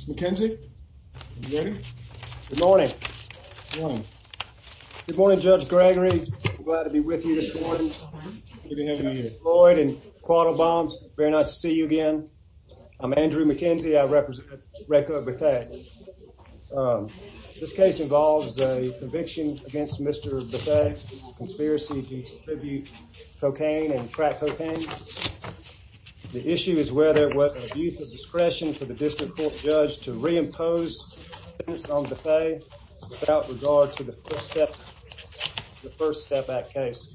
McKenzie. Good morning. Good morning. Good morning, Judge Gregory. Glad to be with you this morning. Lloyd and Quattle Bombs. Very nice to see you again. I'm Andrew McKenzie. I represent Rayco Bethea. Um, this case involves a conviction against Mr Bethea. Conspiracy to distribute cocaine and crack cocaine. The issue is whether what use of discretion for the court judge to reimpose on Bethea without regard to the first step, the first step back case.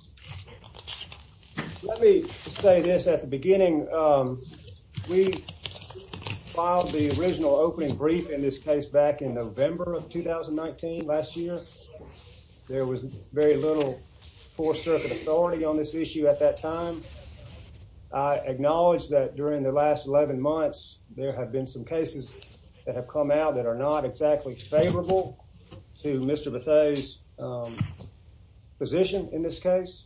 Let me say this at the beginning. Um, we filed the original opening brief in this case back in November of 2019. Last year, there was very little four circuit authority on this issue at that time. I have been some cases that have come out that are not exactly favorable to Mr Bethea's, um, position in this case.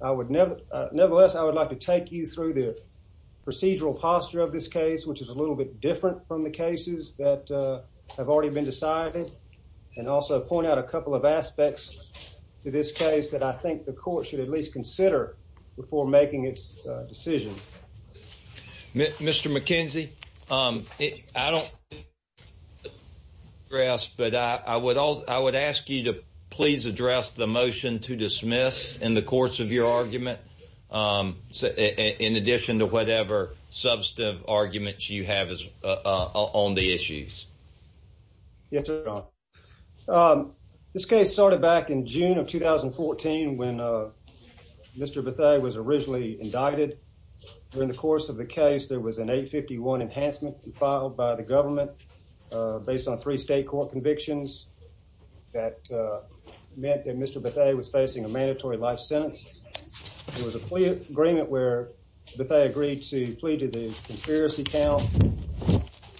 I would never. Nevertheless, I would like to take you through the procedural posture of this case, which is a little bit different from the cases that have already been decided and also point out a couple of aspects to this case that I think the court should at least consider before making its decision. Mr McKenzie. Um, I don't grass, but I would. I would ask you to please address the motion to dismiss in the course of your argument. Um, in addition to whatever substantive arguments you have on the issues. Yes, sir. Um, this case started back in June of 2014 when Mr Bethea was originally indicted. During the course of the case, there was an 8 51 enhancement filed by the government based on three state court convictions that meant that Mr Bethea was facing a mandatory life sentence. There was a plea agreement where Bethea agreed to plead to the conspiracy count,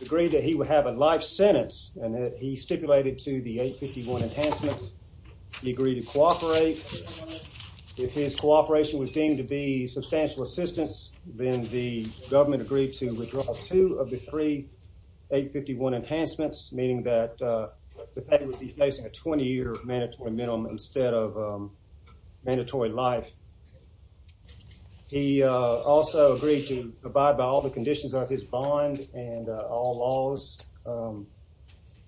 agreed that he would have a life sentence, and that he stipulated to the 8 51 enhancements. He agreed to cooperate. If his cooperation was deemed to be substantial assistance, then the government agreed to withdraw two of the three 8 51 enhancements, meaning that, uh, Bethea would be facing a 20 year mandatory minimum instead of, um, mandatory life. He also agreed to abide by all the conditions of his bond and all laws. Um,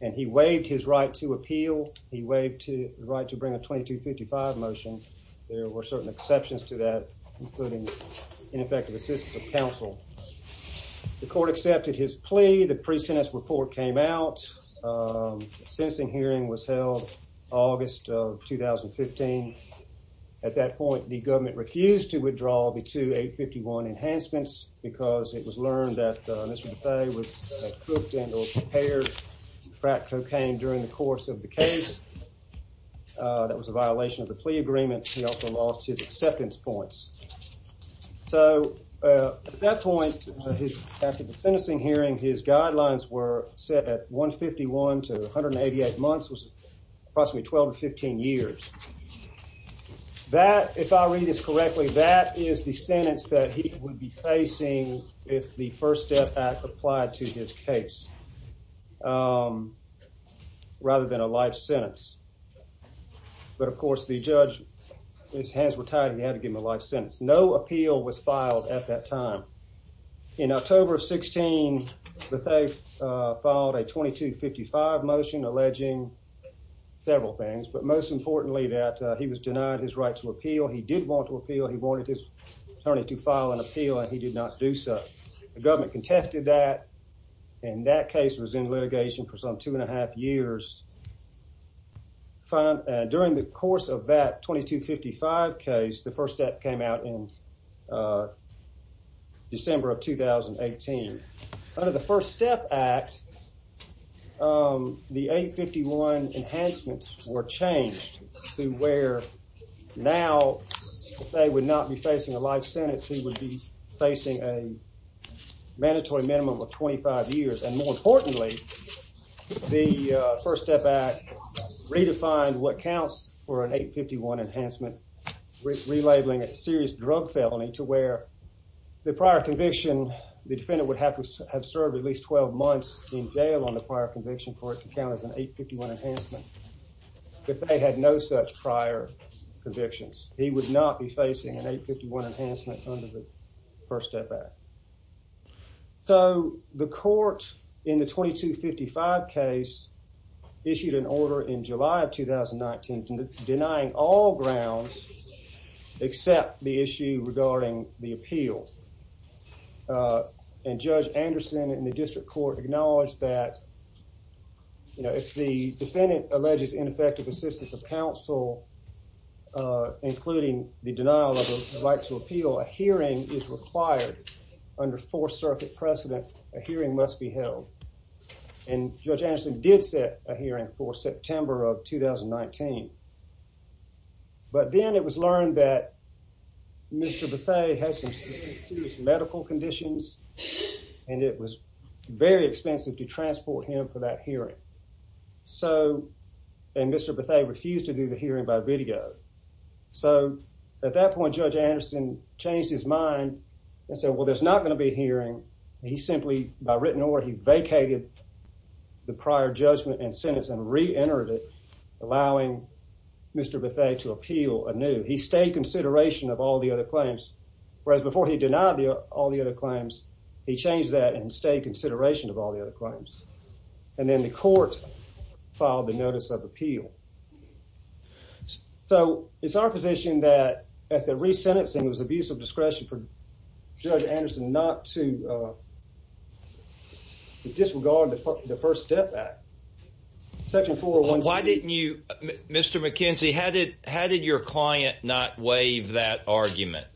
and he waived his right to appeal. He waved to the right to bring a 22 55 motion. There were certain exceptions to that, including ineffective assistance of counsel. The court accepted his plea. The pre sentence report came out. Um, sensing hearing was held August of 2015. At that point, the government refused to withdraw the 2 8 51 enhancements because it was learned that Mr Bethea was cooked and prepared crack cocaine during the course of the case. That was a violation of the plea agreement. He also lost his acceptance points. So, uh, at that point, after the sentencing hearing, his guidelines were set at 1 51 to 188 months was approximately 12 to 15 years. That, if I read this correctly, that is the sentence that he would be facing if the First Step Act applied to his case. Um, rather than a life sentence. But, of course, the judge, his hands were tied. He had to give him a life sentence. No appeal was filed at that time. In October of 16, Bethea filed a plea that he was denied his right to appeal. He did want to appeal. He wanted his attorney to file an appeal, and he did not do so. The government contested that, and that case was in litigation for some 2.5 years. Fine. During the course of that 22 55 case, the first step came out in, uh, where now they would not be facing a life sentence. He would be facing a mandatory minimum of 25 years. And more importantly, the First Step Act redefined what counts for an 8 51 enhancement, relabeling a serious drug felony to where the prior conviction, the defendant would have to have served at least 12 months in jail on the prior conviction for it to count as an 8 51 enhancement. If they had no such prior convictions, he would not be facing an 8 51 enhancement under the First Step Act. So the court in the 22 55 case issued an order in July of 2019 denying all grounds except the issue regarding the appeal. Uh, and Judge Anderson in the defendant alleges ineffective assistance of counsel, including the denial of the right to appeal. A hearing is required under Fourth Circuit precedent. A hearing must be held, and Judge Anderson did set a hearing for September of 2019. But then it was learned that Mr Buffet has some medical conditions, and it was very expensive to transport him for that hearing. So and Mr Buffet refused to do the hearing by video. So at that point, Judge Anderson changed his mind and said, Well, there's not gonna be hearing. He simply by written order, he vacated the prior judgment and sentence and re entered it, allowing Mr Buffet to appeal a new. He stayed consideration of all the other claims, whereas before he denied all the other claims, he changed that and stayed consideration of all the other crimes. And then the court filed the notice of appeal. So it's our position that at the re sentencing was abusive discretion for Judge Anderson not to disregard the first step back. Thank you for one. Why didn't you, Mr McKenzie? Had it? How did your client not waive that argument?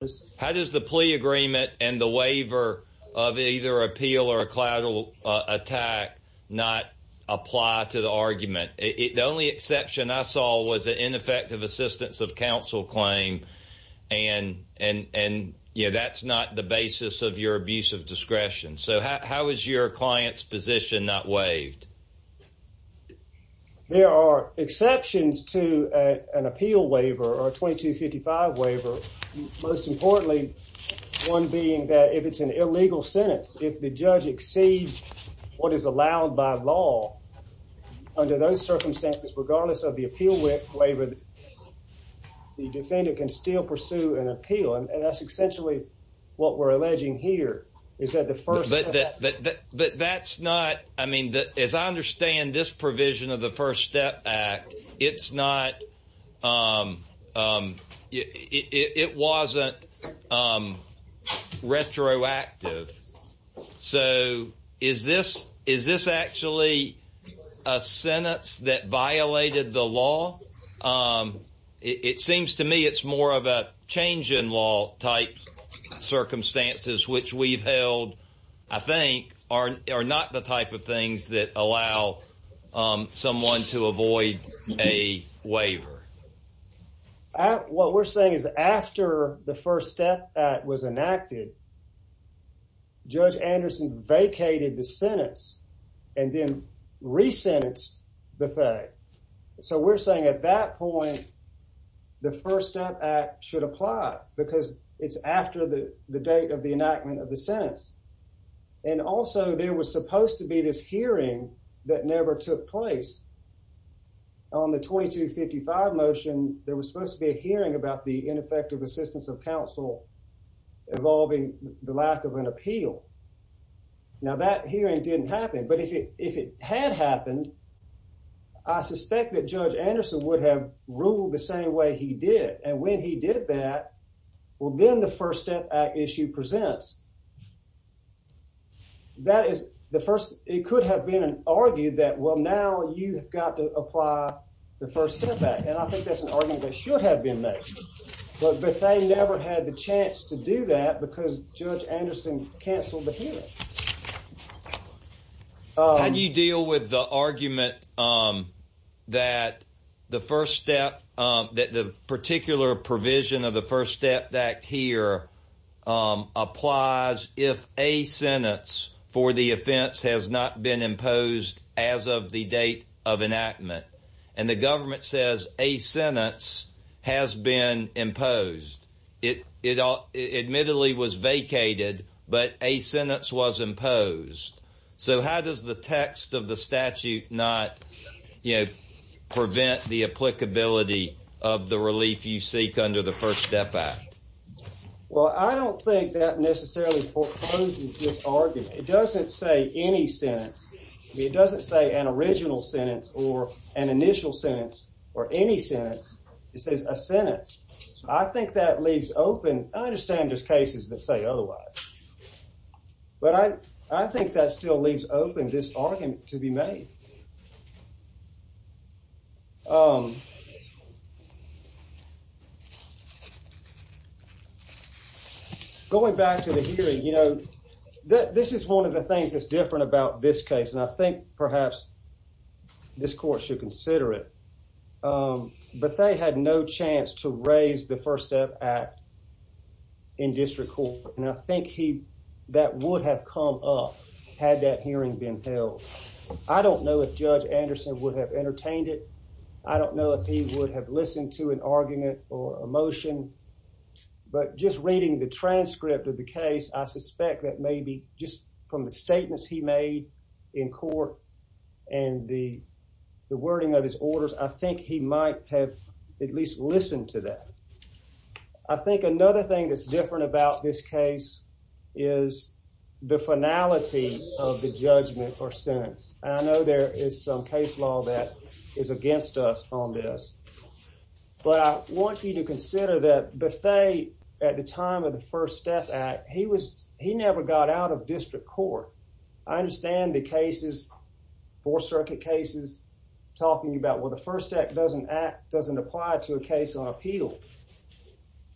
Yes. How does the plea agreement and the waiver of either appeal or collateral attack not apply to the argument? The only exception I saw was an ineffective assistance of counsel claim. And and and, you know, that's not the basis of your abuse of discretion. So how is your client's position not waived? There are exceptions to an appeal waiver or 22 55 waiver. Most importantly, one being that if it's an illegal sentence, if the judge exceeds what is allowed by law under those circumstances, regardless of the appeal with waiver, the defendant can still pursue an appeal. And that's essentially what we're alleging here is that the first that that that that that's not. I mean, that is, I understand this provision of the First Step Act. It's not. Um, it wasn't, um, retroactive. So is this? Is this actually a sentence that violated the law? Um, it seems to me it's more of a change in law type circumstances which we've held, I think, are are not the type of things that allow, um, someone to avoid a waiver. What we're saying is after the First Step Act was enacted, Judge Anderson vacated the sentence and then re sentenced the thing. So we're saying at that point, the First Step Act should apply because it's after the date of the enactment of the sentence. And also, there was supposed to be this hearing that never took place on the 22 55 motion. There was supposed to be a hearing about the ineffective assistance of counsel involving the lack of an appeal. Now that hearing didn't happen. But if it if it had happened, I suspect that Judge Anderson would have ruled the same way he did. And when he did that, well, then the First Step Act issue presents that is the first. It could have been an argued that well, now you have got to apply the First Step Act. And I think that's an argument that should have been made. But they never had the chance to do that because Judge Anderson canceled the hearing. How do you deal with the argument, um, that the first step that the particular provision of the First Step Act here, um, applies if a sentence for the offense has not been imposed as of the date of enactment. And the government says a sentence has been imposed. It admittedly was vacated, but a sentence was imposed. So how does the text of the statute not, you know, prevent the applicability of the relief you seek under the First Step Act? Well, I don't think that necessarily forecloses this argument. It doesn't say any sense. It or any sense. It says a sentence. I think that leaves open. I understand this cases that say otherwise, but I I think that still leaves open this argument to be made. Um, going back to the hearing, you know that this is one of the things that's different about this case, and I think perhaps this court should consider it. Um, but they had no chance to raise the First Step Act in district court, and I think he that would have come up had that hearing been held. I don't know if Judge Anderson would have entertained it. I don't know if he would have listened to an argument or emotion, but just reading the transcript of the case, I suspect that maybe just from the might have at least listen to that. I think another thing that's different about this case is the finality of the judgment or sentence. I know there is some case law that is against us on this, but I want you to consider that Bethay at the time of the First Step Act, he was he never got out of district court. I understand the cases for circuit cases talking about what first act doesn't act doesn't apply to a case on appeal,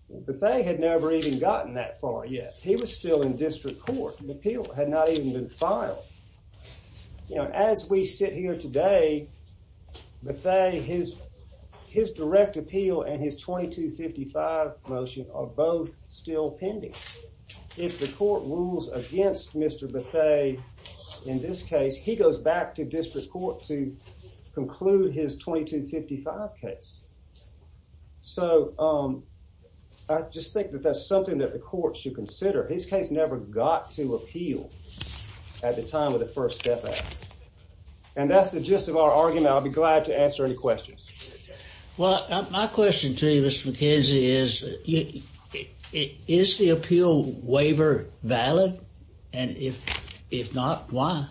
but they had never even gotten that far yet. He was still in district court. The appeal had not even been filed. You know, as we sit here today, but they his his direct appeal and his 22 55 motion are both still pending. If the court rules against Mr Bethay in this case, he goes back to disperse court to conclude his 22 55 case. So, um, I just think that that's something that the court should consider. His case never got to appeal at the time of the First Step. And that's the gist of our argument. I'll be glad to answer any questions. Well, my question to you, Mr McKenzie, is is the appeal waiver valid? And if if not, why?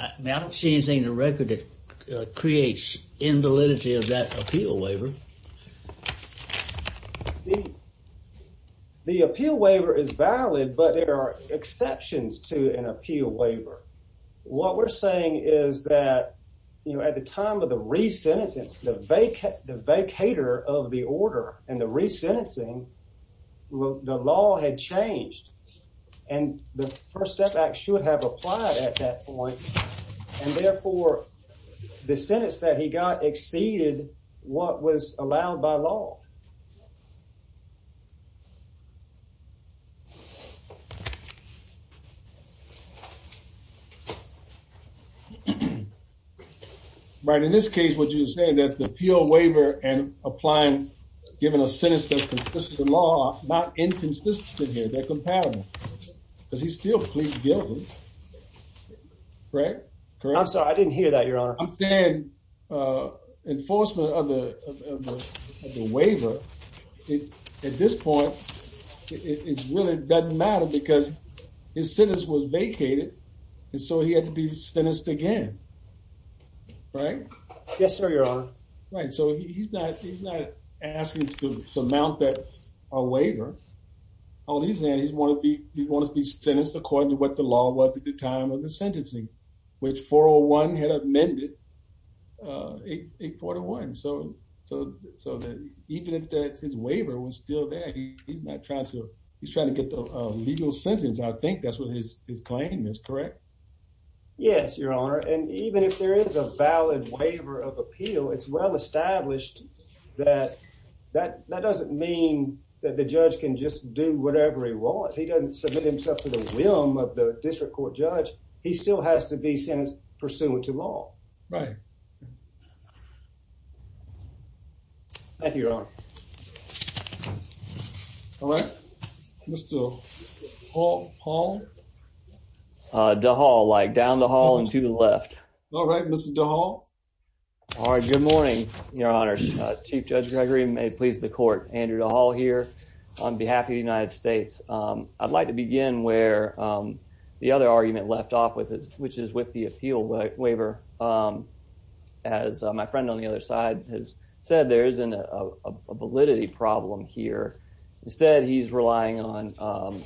I don't see anything in the record that creates invalidity of that appeal waiver. The appeal waiver is valid, but there are exceptions to an appeal waiver. What we're saying is that, you know, at the time of the recent, it's the vacant, the vacator of the order and the resentencing. Well, the law had changed, and the First Step Act should have applied at that point. And therefore, the sentence that he got exceeded what was allowed by law. Right. In this case, would you say that the appeal waiver and applying given a distance in here, they're compatible? Does he still plead guilty? Correct? Correct. I'm sorry. I didn't hear that, Your Honor. I'm saying enforcement of the waiver. At this point, it really doesn't matter because his sentence was vacated, and so he had to be sentenced again. Right? Yes, sir, Your Honor. Right. So he's not asking to amount that a all these and he's one of the you want to be sentenced according to what the law was at the time of the sentencing, which 401 had amended a 41. So so so that even if that his waiver was still there, he's not trying to. He's trying to get the legal sentence. I think that's what his claim is correct. Yes, Your Honor. And even if there is a valid waiver of appeal, it's well established that that that doesn't mean that the judge can just do whatever he wants. He doesn't submit himself to the whim of the district court judge. He still has to be sentenced pursuant to law, right? Thank you, Your Honor. All right, Mr. Paul. Uh, the hall like down the hall and to the left. All right, Mr Dahl. All right. Good morning, Your Honor. Chief Judge Gregory may please the court. Andrew Hall here on behalf of the United States. I'd like to begin where the other argument left off with, which is with the appeal waiver. Um, as my friend on the other side has said, there isn't a validity problem here. Instead, he's relying on, um,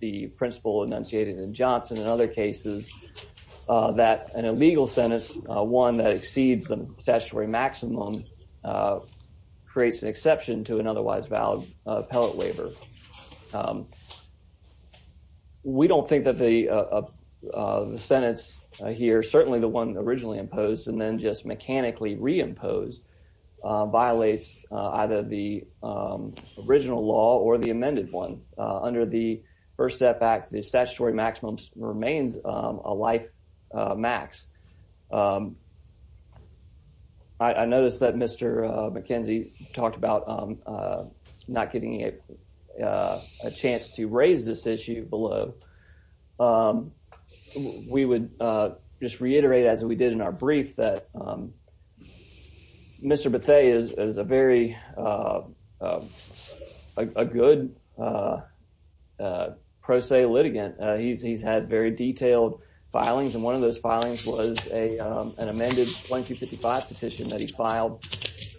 the principle enunciated in Johnson and other cases, uh, that an illegal sentence, one that exceeds the statutory maximum, uh, creates an exception to an otherwise valid appellate waiver. Um, we don't think that the, uh, the sentence here, certainly the one originally imposed and then just mechanically reimposed, uh, violates either the, um, original law or the amended one. Under the First Step Act, the statutory maximums remains a life max. Um, I noticed that Mr McKenzie talked about, um, uh, not getting a, uh, a chance to raise this issue below. Um, we would, uh, just reiterate, as we did in our brief, that, um, Mr Bethea is a very, uh, uh, a good, uh, uh, pro se litigant. Uh, he's, he's had very detailed filings, and one of those filings was a, um, an amended 2255 petition that he filed,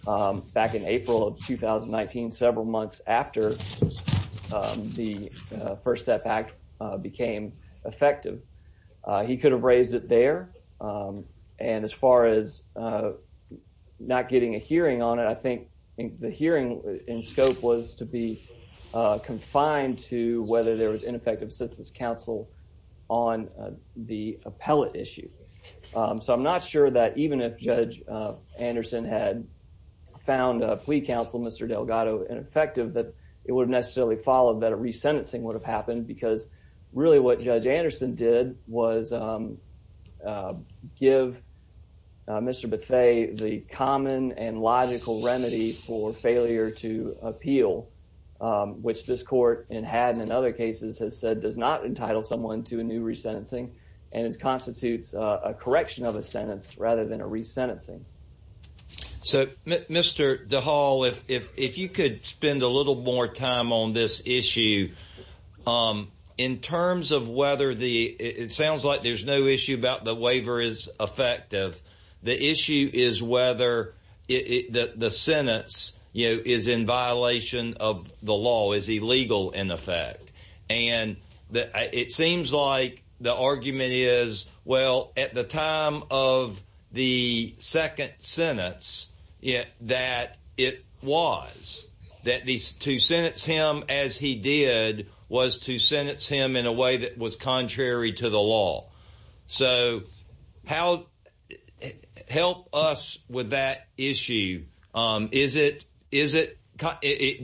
um, back in April of 2019, several months after, um, the, uh, First Step Act, uh, became effective. Uh, he could have raised it there, um, and as far as, uh, not getting a hearing on it, I think the hearing in scope was to be, uh, confined to whether there was ineffective assistance counsel on the appellate issue. Um, so I'm not sure that even if Judge Anderson had found a plea counsel, Mr Delgado, ineffective, that it would have necessarily followed that a resentencing would have happened because really what Judge Anderson did was, um, uh, give, uh, Mr Bethea the common and logical remedy for failure to appeal, um, which this court, and had in other cases, has said does not entitle someone to a new resentencing, and it constitutes a correction of a sentence rather than a resentencing. So, Mr DeHaul, if, if, if you could spend a little more time on this issue, um, in terms of whether the, it sounds like there's no issue about the waiver is effective. The issue is whether the sentence, you know, is in violation of the law, is illegal in effect. And it seems like the argument is, well, at the time of the second sentence, that it was, that these two sentence him as he did was to sentence him in a way that was contrary to the law. So how help us with that issue? Um, is it? Is it?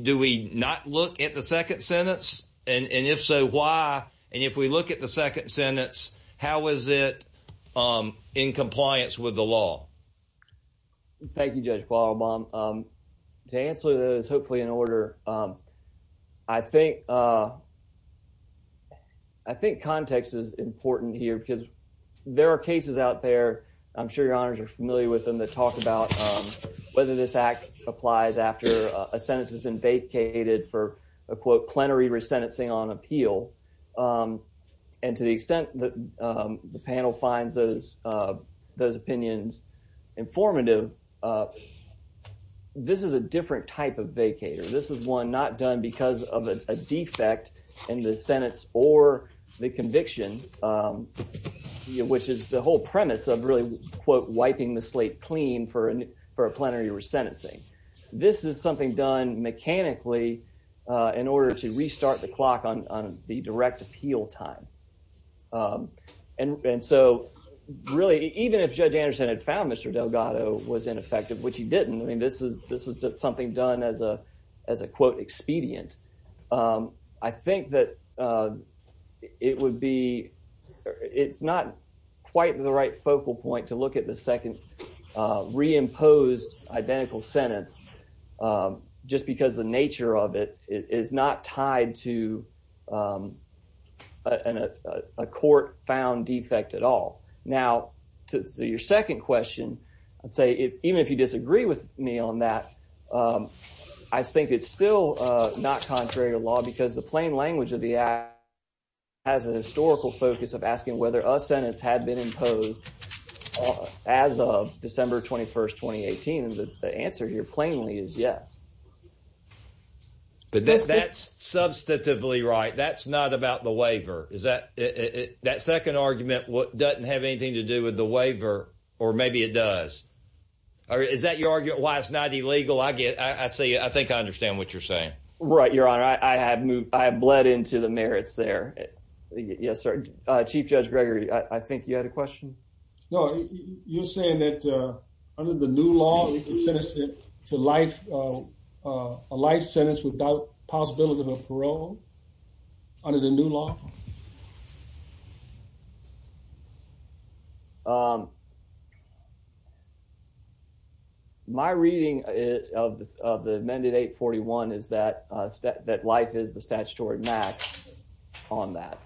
Do we not look at the second sentence? And if so, why? And if we look at the second sentence, how is it, um, in compliance with the law? Thank you, Judge Qualbom. Um, to answer those, hopefully in order, um, I think, uh, I think context is important here because there are cases out there. I'm sure your honors are familiar with them that talk about whether this act applies after a sentence has been vacated for a quote plenary resentencing on appeal. Um, and to the extent that, um, the panel finds those, uh, those opinions informative, uh, this is a different type of vacator. This is one not done because of a defect in the sentence or the conviction, um, which is the whole premise of really quote wiping the slate clean for a plenary resentencing. This is something done mechanically, uh, in order to restart the clock on the direct appeal time. Um, and and so really, even if Judge Anderson had found Mr Delgado was ineffective, which he didn't, I mean, this was this was something done as a as a quote expedient. Um, I think that, uh, it would be it's not quite the right focal point to look at the second, uh, reimposed identical sentence. Um, just because the nature of it is not tied to, um, and a court found defect at all. Now to your second question, I'd say, even if you disagree with me on that, um, I think it's still not contrary to law because the plain language of the act has a historical focus of asking whether a sentence had been imposed as of December 21st 2018. The answer here plainly is yes, but that's that's substantively right. That's not about the waiver. Is that that second argument? What doesn't have anything to do with the waiver? Or maybe it does. Or is that your argument? Why it's not illegal. I get I see. I think I understand what you're saying. Right, Your Honor. I have moved. I bled into the merits there. Yes, sir. Chief Judge Gregory. I think you had a citizen to life. Uh, life sentence without possibility of parole under the new law. Um, my reading of the amended 8 41 is that that life is the statutory max on that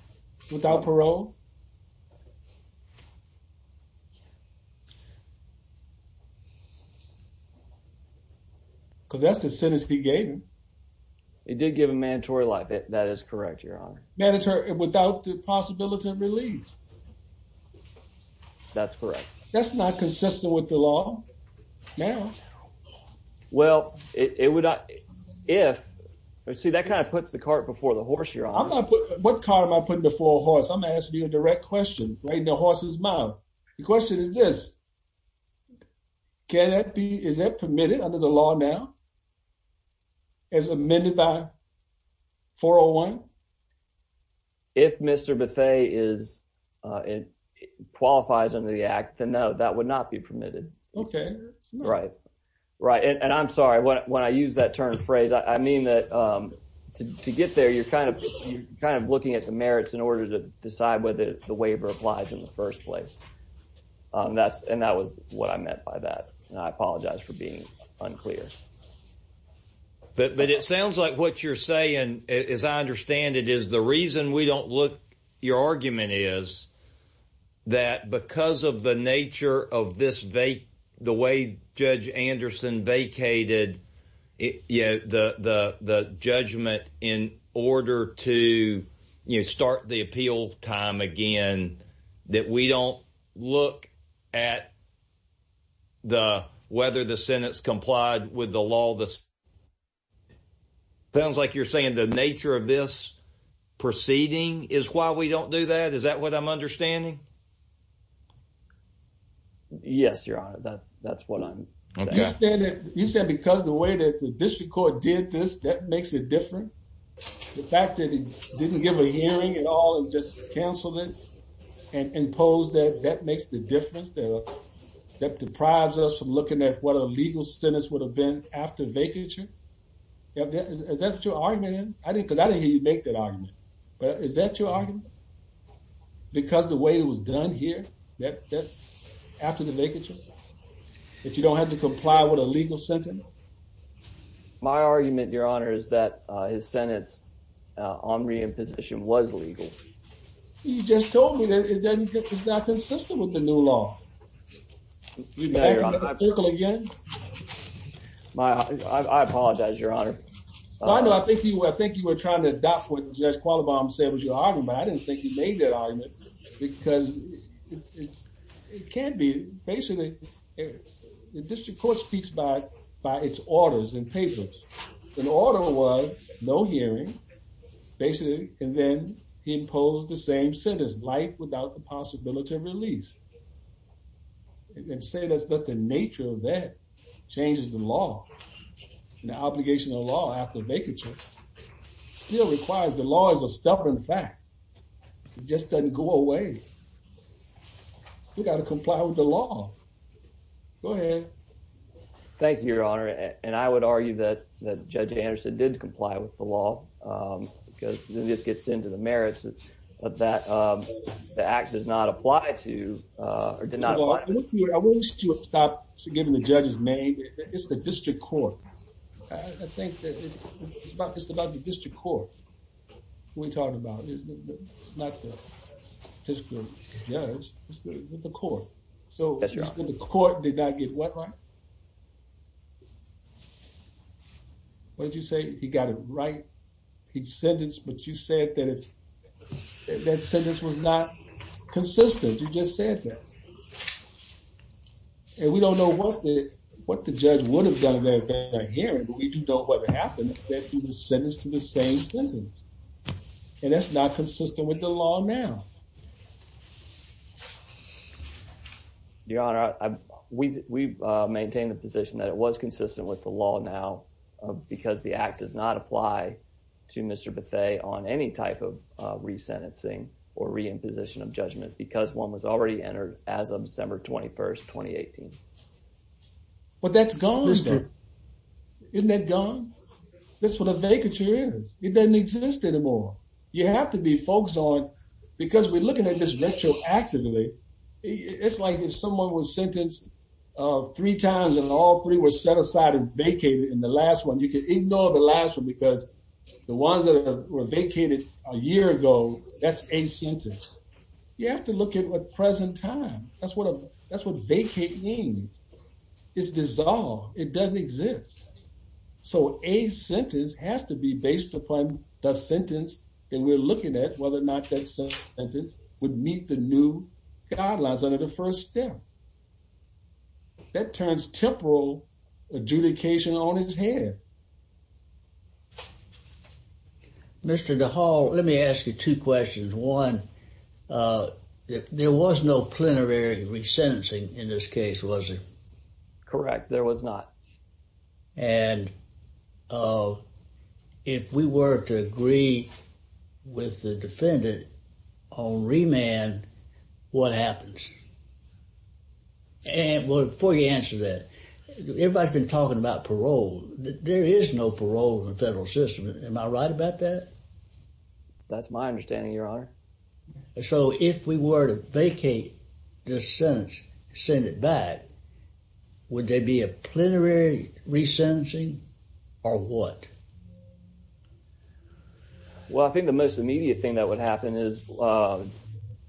without parole. Yeah, because that's the sentence he gave him. It did give a mandatory life. That is correct, Your Honor. Manager without the possibility of release. That's correct. That's not consistent with the law now. Well, it would. If I see that kind of puts the cart before the horse. You're on. What car am I putting the full horse? I'm asking you a direct question right in the horse's mouth. The question is this. Can that be? Is that permitted under the law now is amended by 401? If Mr Buffet is it qualifies under the act, then no, that would not be permitted. Okay, right, right. And I'm sorry. When I use that term phrase, I mean that, um, to get there, you're kind of kind of looking at the merits in order to decide whether the waiver applies in the first place. Um, that's and that was what I meant by that. I apologize for being unclear. But it sounds like what you're saying is I understand it is the reason we don't look. Your argument is that because of the nature of this vape, the way Judge Anderson vacated, you know, the judgment in order to start the appeal time again that we don't look at the whether the Senate's complied with the law. This sounds like you're saying the nature of this proceeding is why we don't do that. Is that what I'm understanding? Yes, Your Honor. That's that's what I'm saying. You said because the way that the district court did this, that makes it different. The fact that he didn't give a hearing at all and just cancelled it and imposed that that makes the difference that that deprives us from looking at what a legal sentence would have been after vacature. Is that your argument? I didn't because I didn't hear you make that argument. But is that your argument? Because the way it was done here that after the vacature that you don't have to comply with a legal sentence. My argument, Your Honor, is that his Senate's on re imposition was legal. You just told me that it doesn't get that consistent with the new law. We better circle again. My I apologize, Your Honor. I know. I think you were. I think you were trying to adopt what Judge Qualibam said was your argument. I didn't think you made that argument because it can be basically the district court speaks by by its orders and papers. An order was no hearing basically. And then he imposed the same sentence life without the possibility of release and say that's that the nature of that changes the law. The obligation of law after vacature still requires the law is a stubborn fact. It just doesn't go away. We gotta comply with the law. Go ahead. Thank you, Your Honor. And I would argue that that Judge Anderson did comply with the law. Um, because this gets into the merits of that. Um, the act does not apply to, uh, did not want to stop giving the judge's name. It's the district court. I think it's about just about the district court we talked about. It's not just good. Yeah, it's the court. So the court did not get what? What did you say? He got it right. He said it's but you said that it said this was not consistent. You just said that and we don't know what the what the judge would have done that hearing. We don't know what happened. Sentence to the same sentence. And that's not consistent with the law now. Yeah. Your Honor, we maintain the position that it was consistent with the law now because the act does not apply to Mr Bethe on any type of resentencing or re imposition of judgment because one was already entered as of December 21st 2018. But that's gone. Isn't that gone? That's what a vacature is. It doesn't look at this retroactively. It's like if someone was sentenced three times and all three were set aside and vacated in the last one, you could ignore the last one because the ones that were vacated a year ago, that's a sentence. You have to look at what present time. That's what that's what vacating is dissolved. It doesn't exist. So a sentence has to be based upon the would meet the new guidelines under the first step that turns temporal adjudication on his head. Mr. De Hall, let me ask you two questions. One, uh, there was no plenary resentencing in this case, was it correct? There was not. And, uh, if we were to agree with the defendant on remand, what happens? And before you answer that, everybody's been talking about parole. There is no parole in the federal system. Am I right about that? That's my understanding, Your Honor. So if we were to vacate this sentence, send it back, would they be a plenary resentencing or what? Well, I think the most immediate thing that would happen is, uh,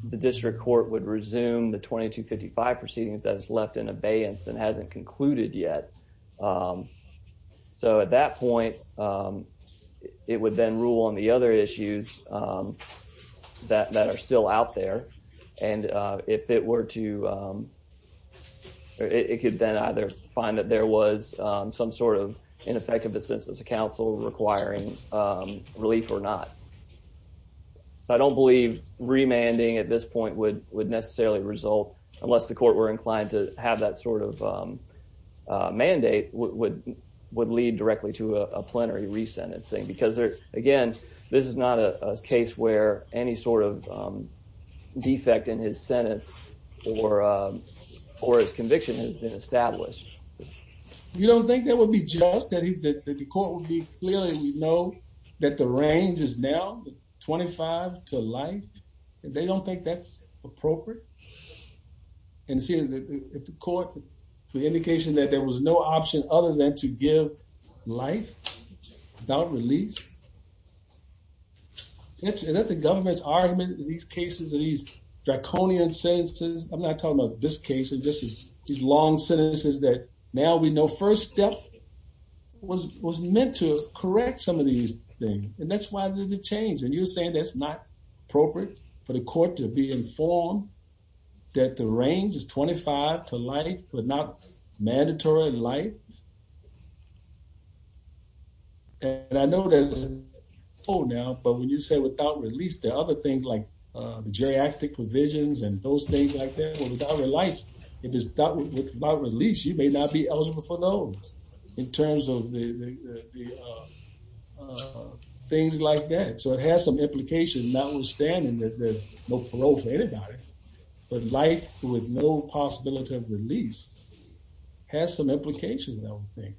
the district court would resume the 22 55 proceedings that is left in abeyance and hasn't concluded yet. Um, so at that point, um, it would then rule on the other issues, um, that that are still out there. And if it were to, um, it could then either find that there was some sort of ineffective assistance council requiring, um, relief or not. I don't believe remanding at this point would would necessarily result unless the court were inclined to have that sort of, um, mandate would would lead directly to a plenary resentencing because there again, this is not a case where any sort of, um, defect in his sentence or, uh, or his conviction has been established. You don't think that would be just that the court would be clearly know that the range is now 25 to life. They don't think that's appropriate. And see if the court indication that there was no option other than to give life without release. That the government's argument in these cases of these draconian sentences. I'm not talking about this case. And this is these long sentences that now we know first step was was meant to correct some of these things. And that's why there's a change. And you're saying that's not appropriate for the court to be informed that the range is 25 to life, but not mandatory life. And I know that, oh, now, but when you say without release, the other things like the geriatric provisions and those things like that without life, if it's not with my release, you may not be eligible for those in terms of the things like that. So it has some implications, notwithstanding that there's no parole for anybody. But life with no possibility of release has some implications. I don't think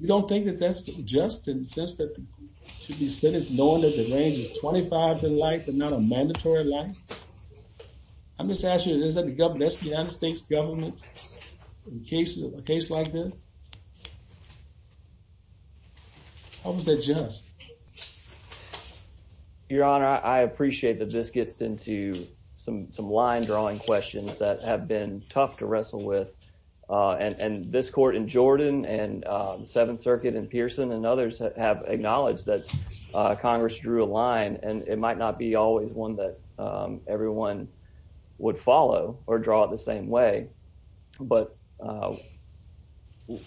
we don't think that that's just insisted to be said. It's known that the range is 25 in life, but not a mandatory life. I'm just asking. Is that the governess? The United States government in cases of a case like this? How was that just your honor? I appreciate that. This gets into some some line drawing questions that have been tough to wrestle with on this court in Jordan and Seventh Circuit and Pearson and others have acknowledged that Congress drew a line, and it might not be always one that everyone would follow or draw the same way. But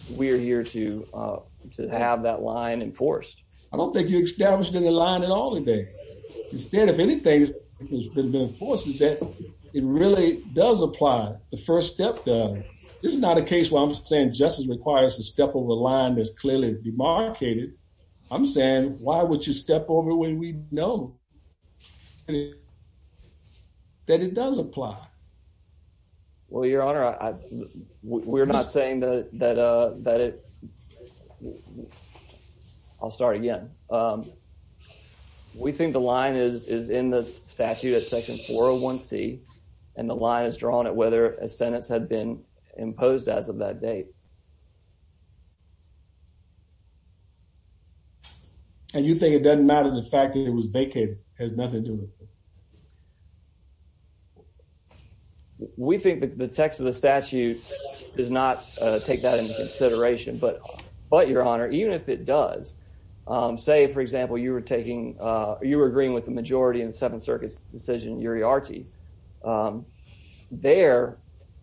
we're here to have that line enforced. I don't think you established in the line at all today. Instead, if anything has been enforces that it really does apply. The first step. This is not a case where I'm saying justice requires to step over the line that's clearly demarcated. I'm saying, Why would you step over when we know that it does apply? Well, your honor, we're not saying that that, uh, that it I'll start again. Um, we think the line is is in the statute of Section 401 C, and the line is drawn at whether a sentence had been imposed as of that date. And you think it doesn't matter. The fact that it was vacant has nothing to it. We think that the text of the statute does not take that into consideration. But But, your honor, even if it does, say, for example, you were taking you were agreeing with the majority in the Seventh Circuit's decision. Yuri Archie, um, there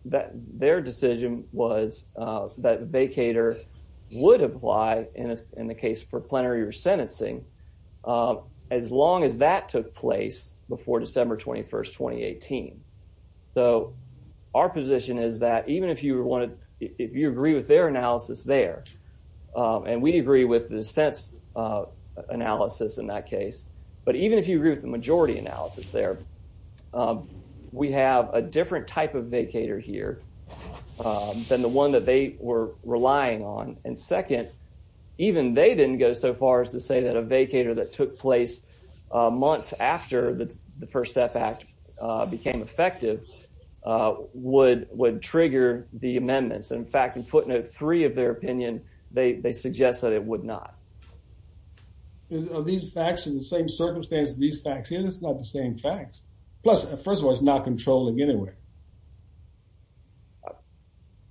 that their decision was that vacator would apply in the case for plenary or sentencing. Um, as long as that took place before December 21st, 2018. So our position is that even if you wanted if you agree with their analysis there, and we agree with the sense analysis in that case, but even if you agree with the majority analysis there, we have a different type of vacator here than the one that they were relying on. And second, even they didn't go so far as to say that a vacator that took place months after the First Step Act became effective would would trigger the amendments. In fact, in footnote three of their opinion, they suggest that it would not. These facts in the same circumstances. These facts here. That's not the same facts. Plus, first of all, it's not controlling anyway.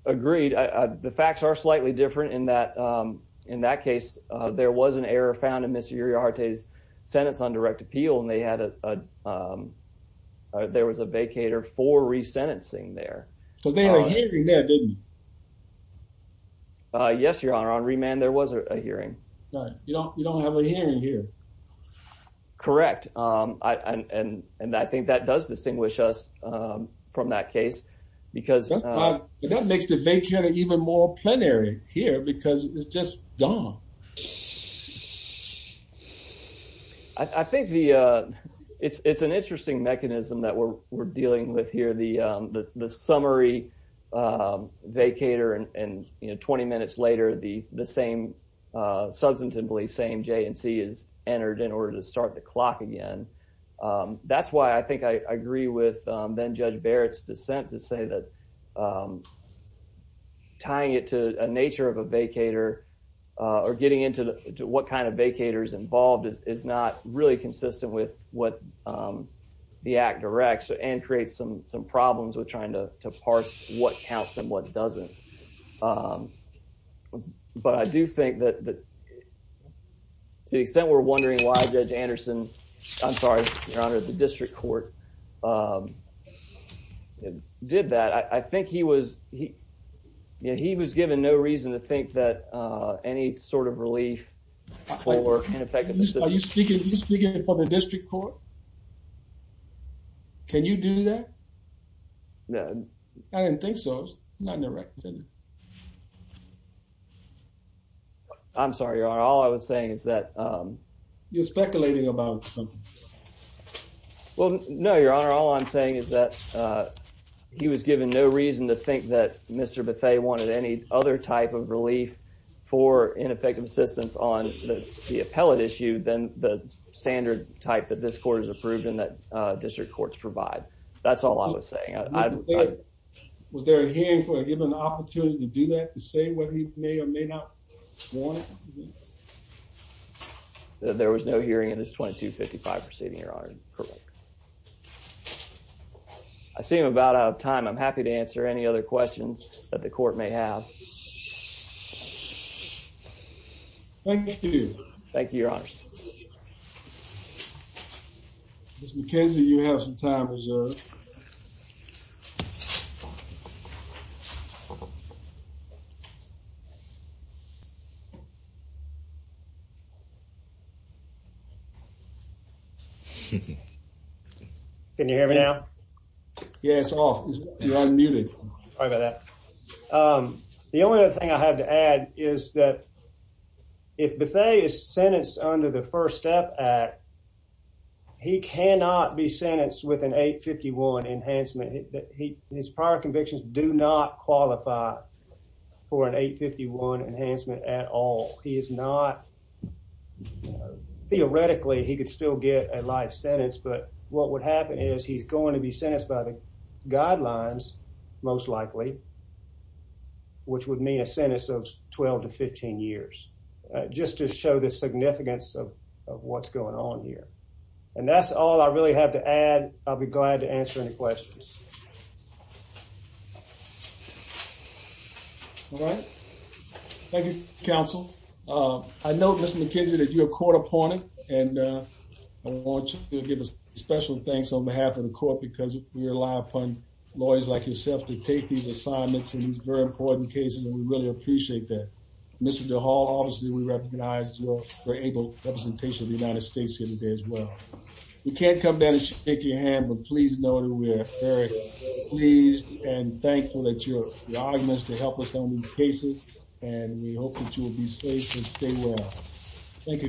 Agreed. The facts are slightly different in that, um, in that case, there was an error found in this year. Your heart is sentenced on direct appeal, and they had a, um, there was a vacator for resentencing there because they were didn't Yes, Your Honor. On remand, there was a hearing. You don't You don't have a hearing here. Correct. Um, and I think that does distinguish us from that case because that makes the vacation even more plenary here because it's just gone. I think the it's an interesting mechanism that we're dealing with here. The the summary, um, vacator and 20 minutes later, the the same, uh, substantively same J and C is entered in order to start the clock again. That's why I think I agree with then Judge Barrett's dissent to say that, um, tying it to a nature of a vacator or getting into what kind of vacators involved is not really consistent with what, um, the act directs and creates some problems with trying to parse what counts and what doesn't. Um, but I do think that to the extent we're wondering why Judge Anderson, I'm sorry, Your Honor, the district court, um, did that. I think he was he he was given no reason to think that any sort of relief or ineffective are you speaking for the district court? Can you do that? No, I didn't think so. Not in the right thing. I'm sorry, Your Honor. All I was saying is that, um, you're speculating about something. Well, no, Your Honor. All I'm saying is that, uh, he was given no reason to think that Mr Bethea wanted any other type of relief for ineffective assistance on the appellate issue than the standard type that this court is approved in that district courts provide. That's all I was saying. I was there a hearing for a given opportunity to do that to say what he may or may not want. There was no hearing in this 22 55 proceeding, Your Honor. Correct. I seem about out of time. I'm happy to answer any other questions that the court may have. Thank you. Thank you, Your Honor. McKenzie, you have some time reserved. Can you hear me now? Yeah, it's off. You're unmuted. Sorry about that. The only thing I have to add is that if Bethea is sentenced under the First Step Act, he cannot be sentenced with an 8 51 enhancement. His prior convictions do not qualify for an 8 51 enhancement at all. He is not. Theoretically, he could still get a life sentence. But what would happen is he's going to be sentenced by the guidelines most likely, which would mean a sentence of 12 to 15 years. Just to show the significance of what's going on here. And that's all I really have to add. I'll be glad to answer any questions. All right. Thank you, Counsel. I know, Mr McKenzie, that you're a court appointed, and I want you to give a special thanks on behalf of the court because we rely upon lawyers like yourself to take these assignments in these very important cases, and we really appreciate that. Mr DeHall, obviously, we recognize your able representation of the United States here today as well. You can't come down and shake your hand, but please know that we are very pleased and thankful that you're willing to help us on these cases, and we hope that you will be safe and stay well. Thank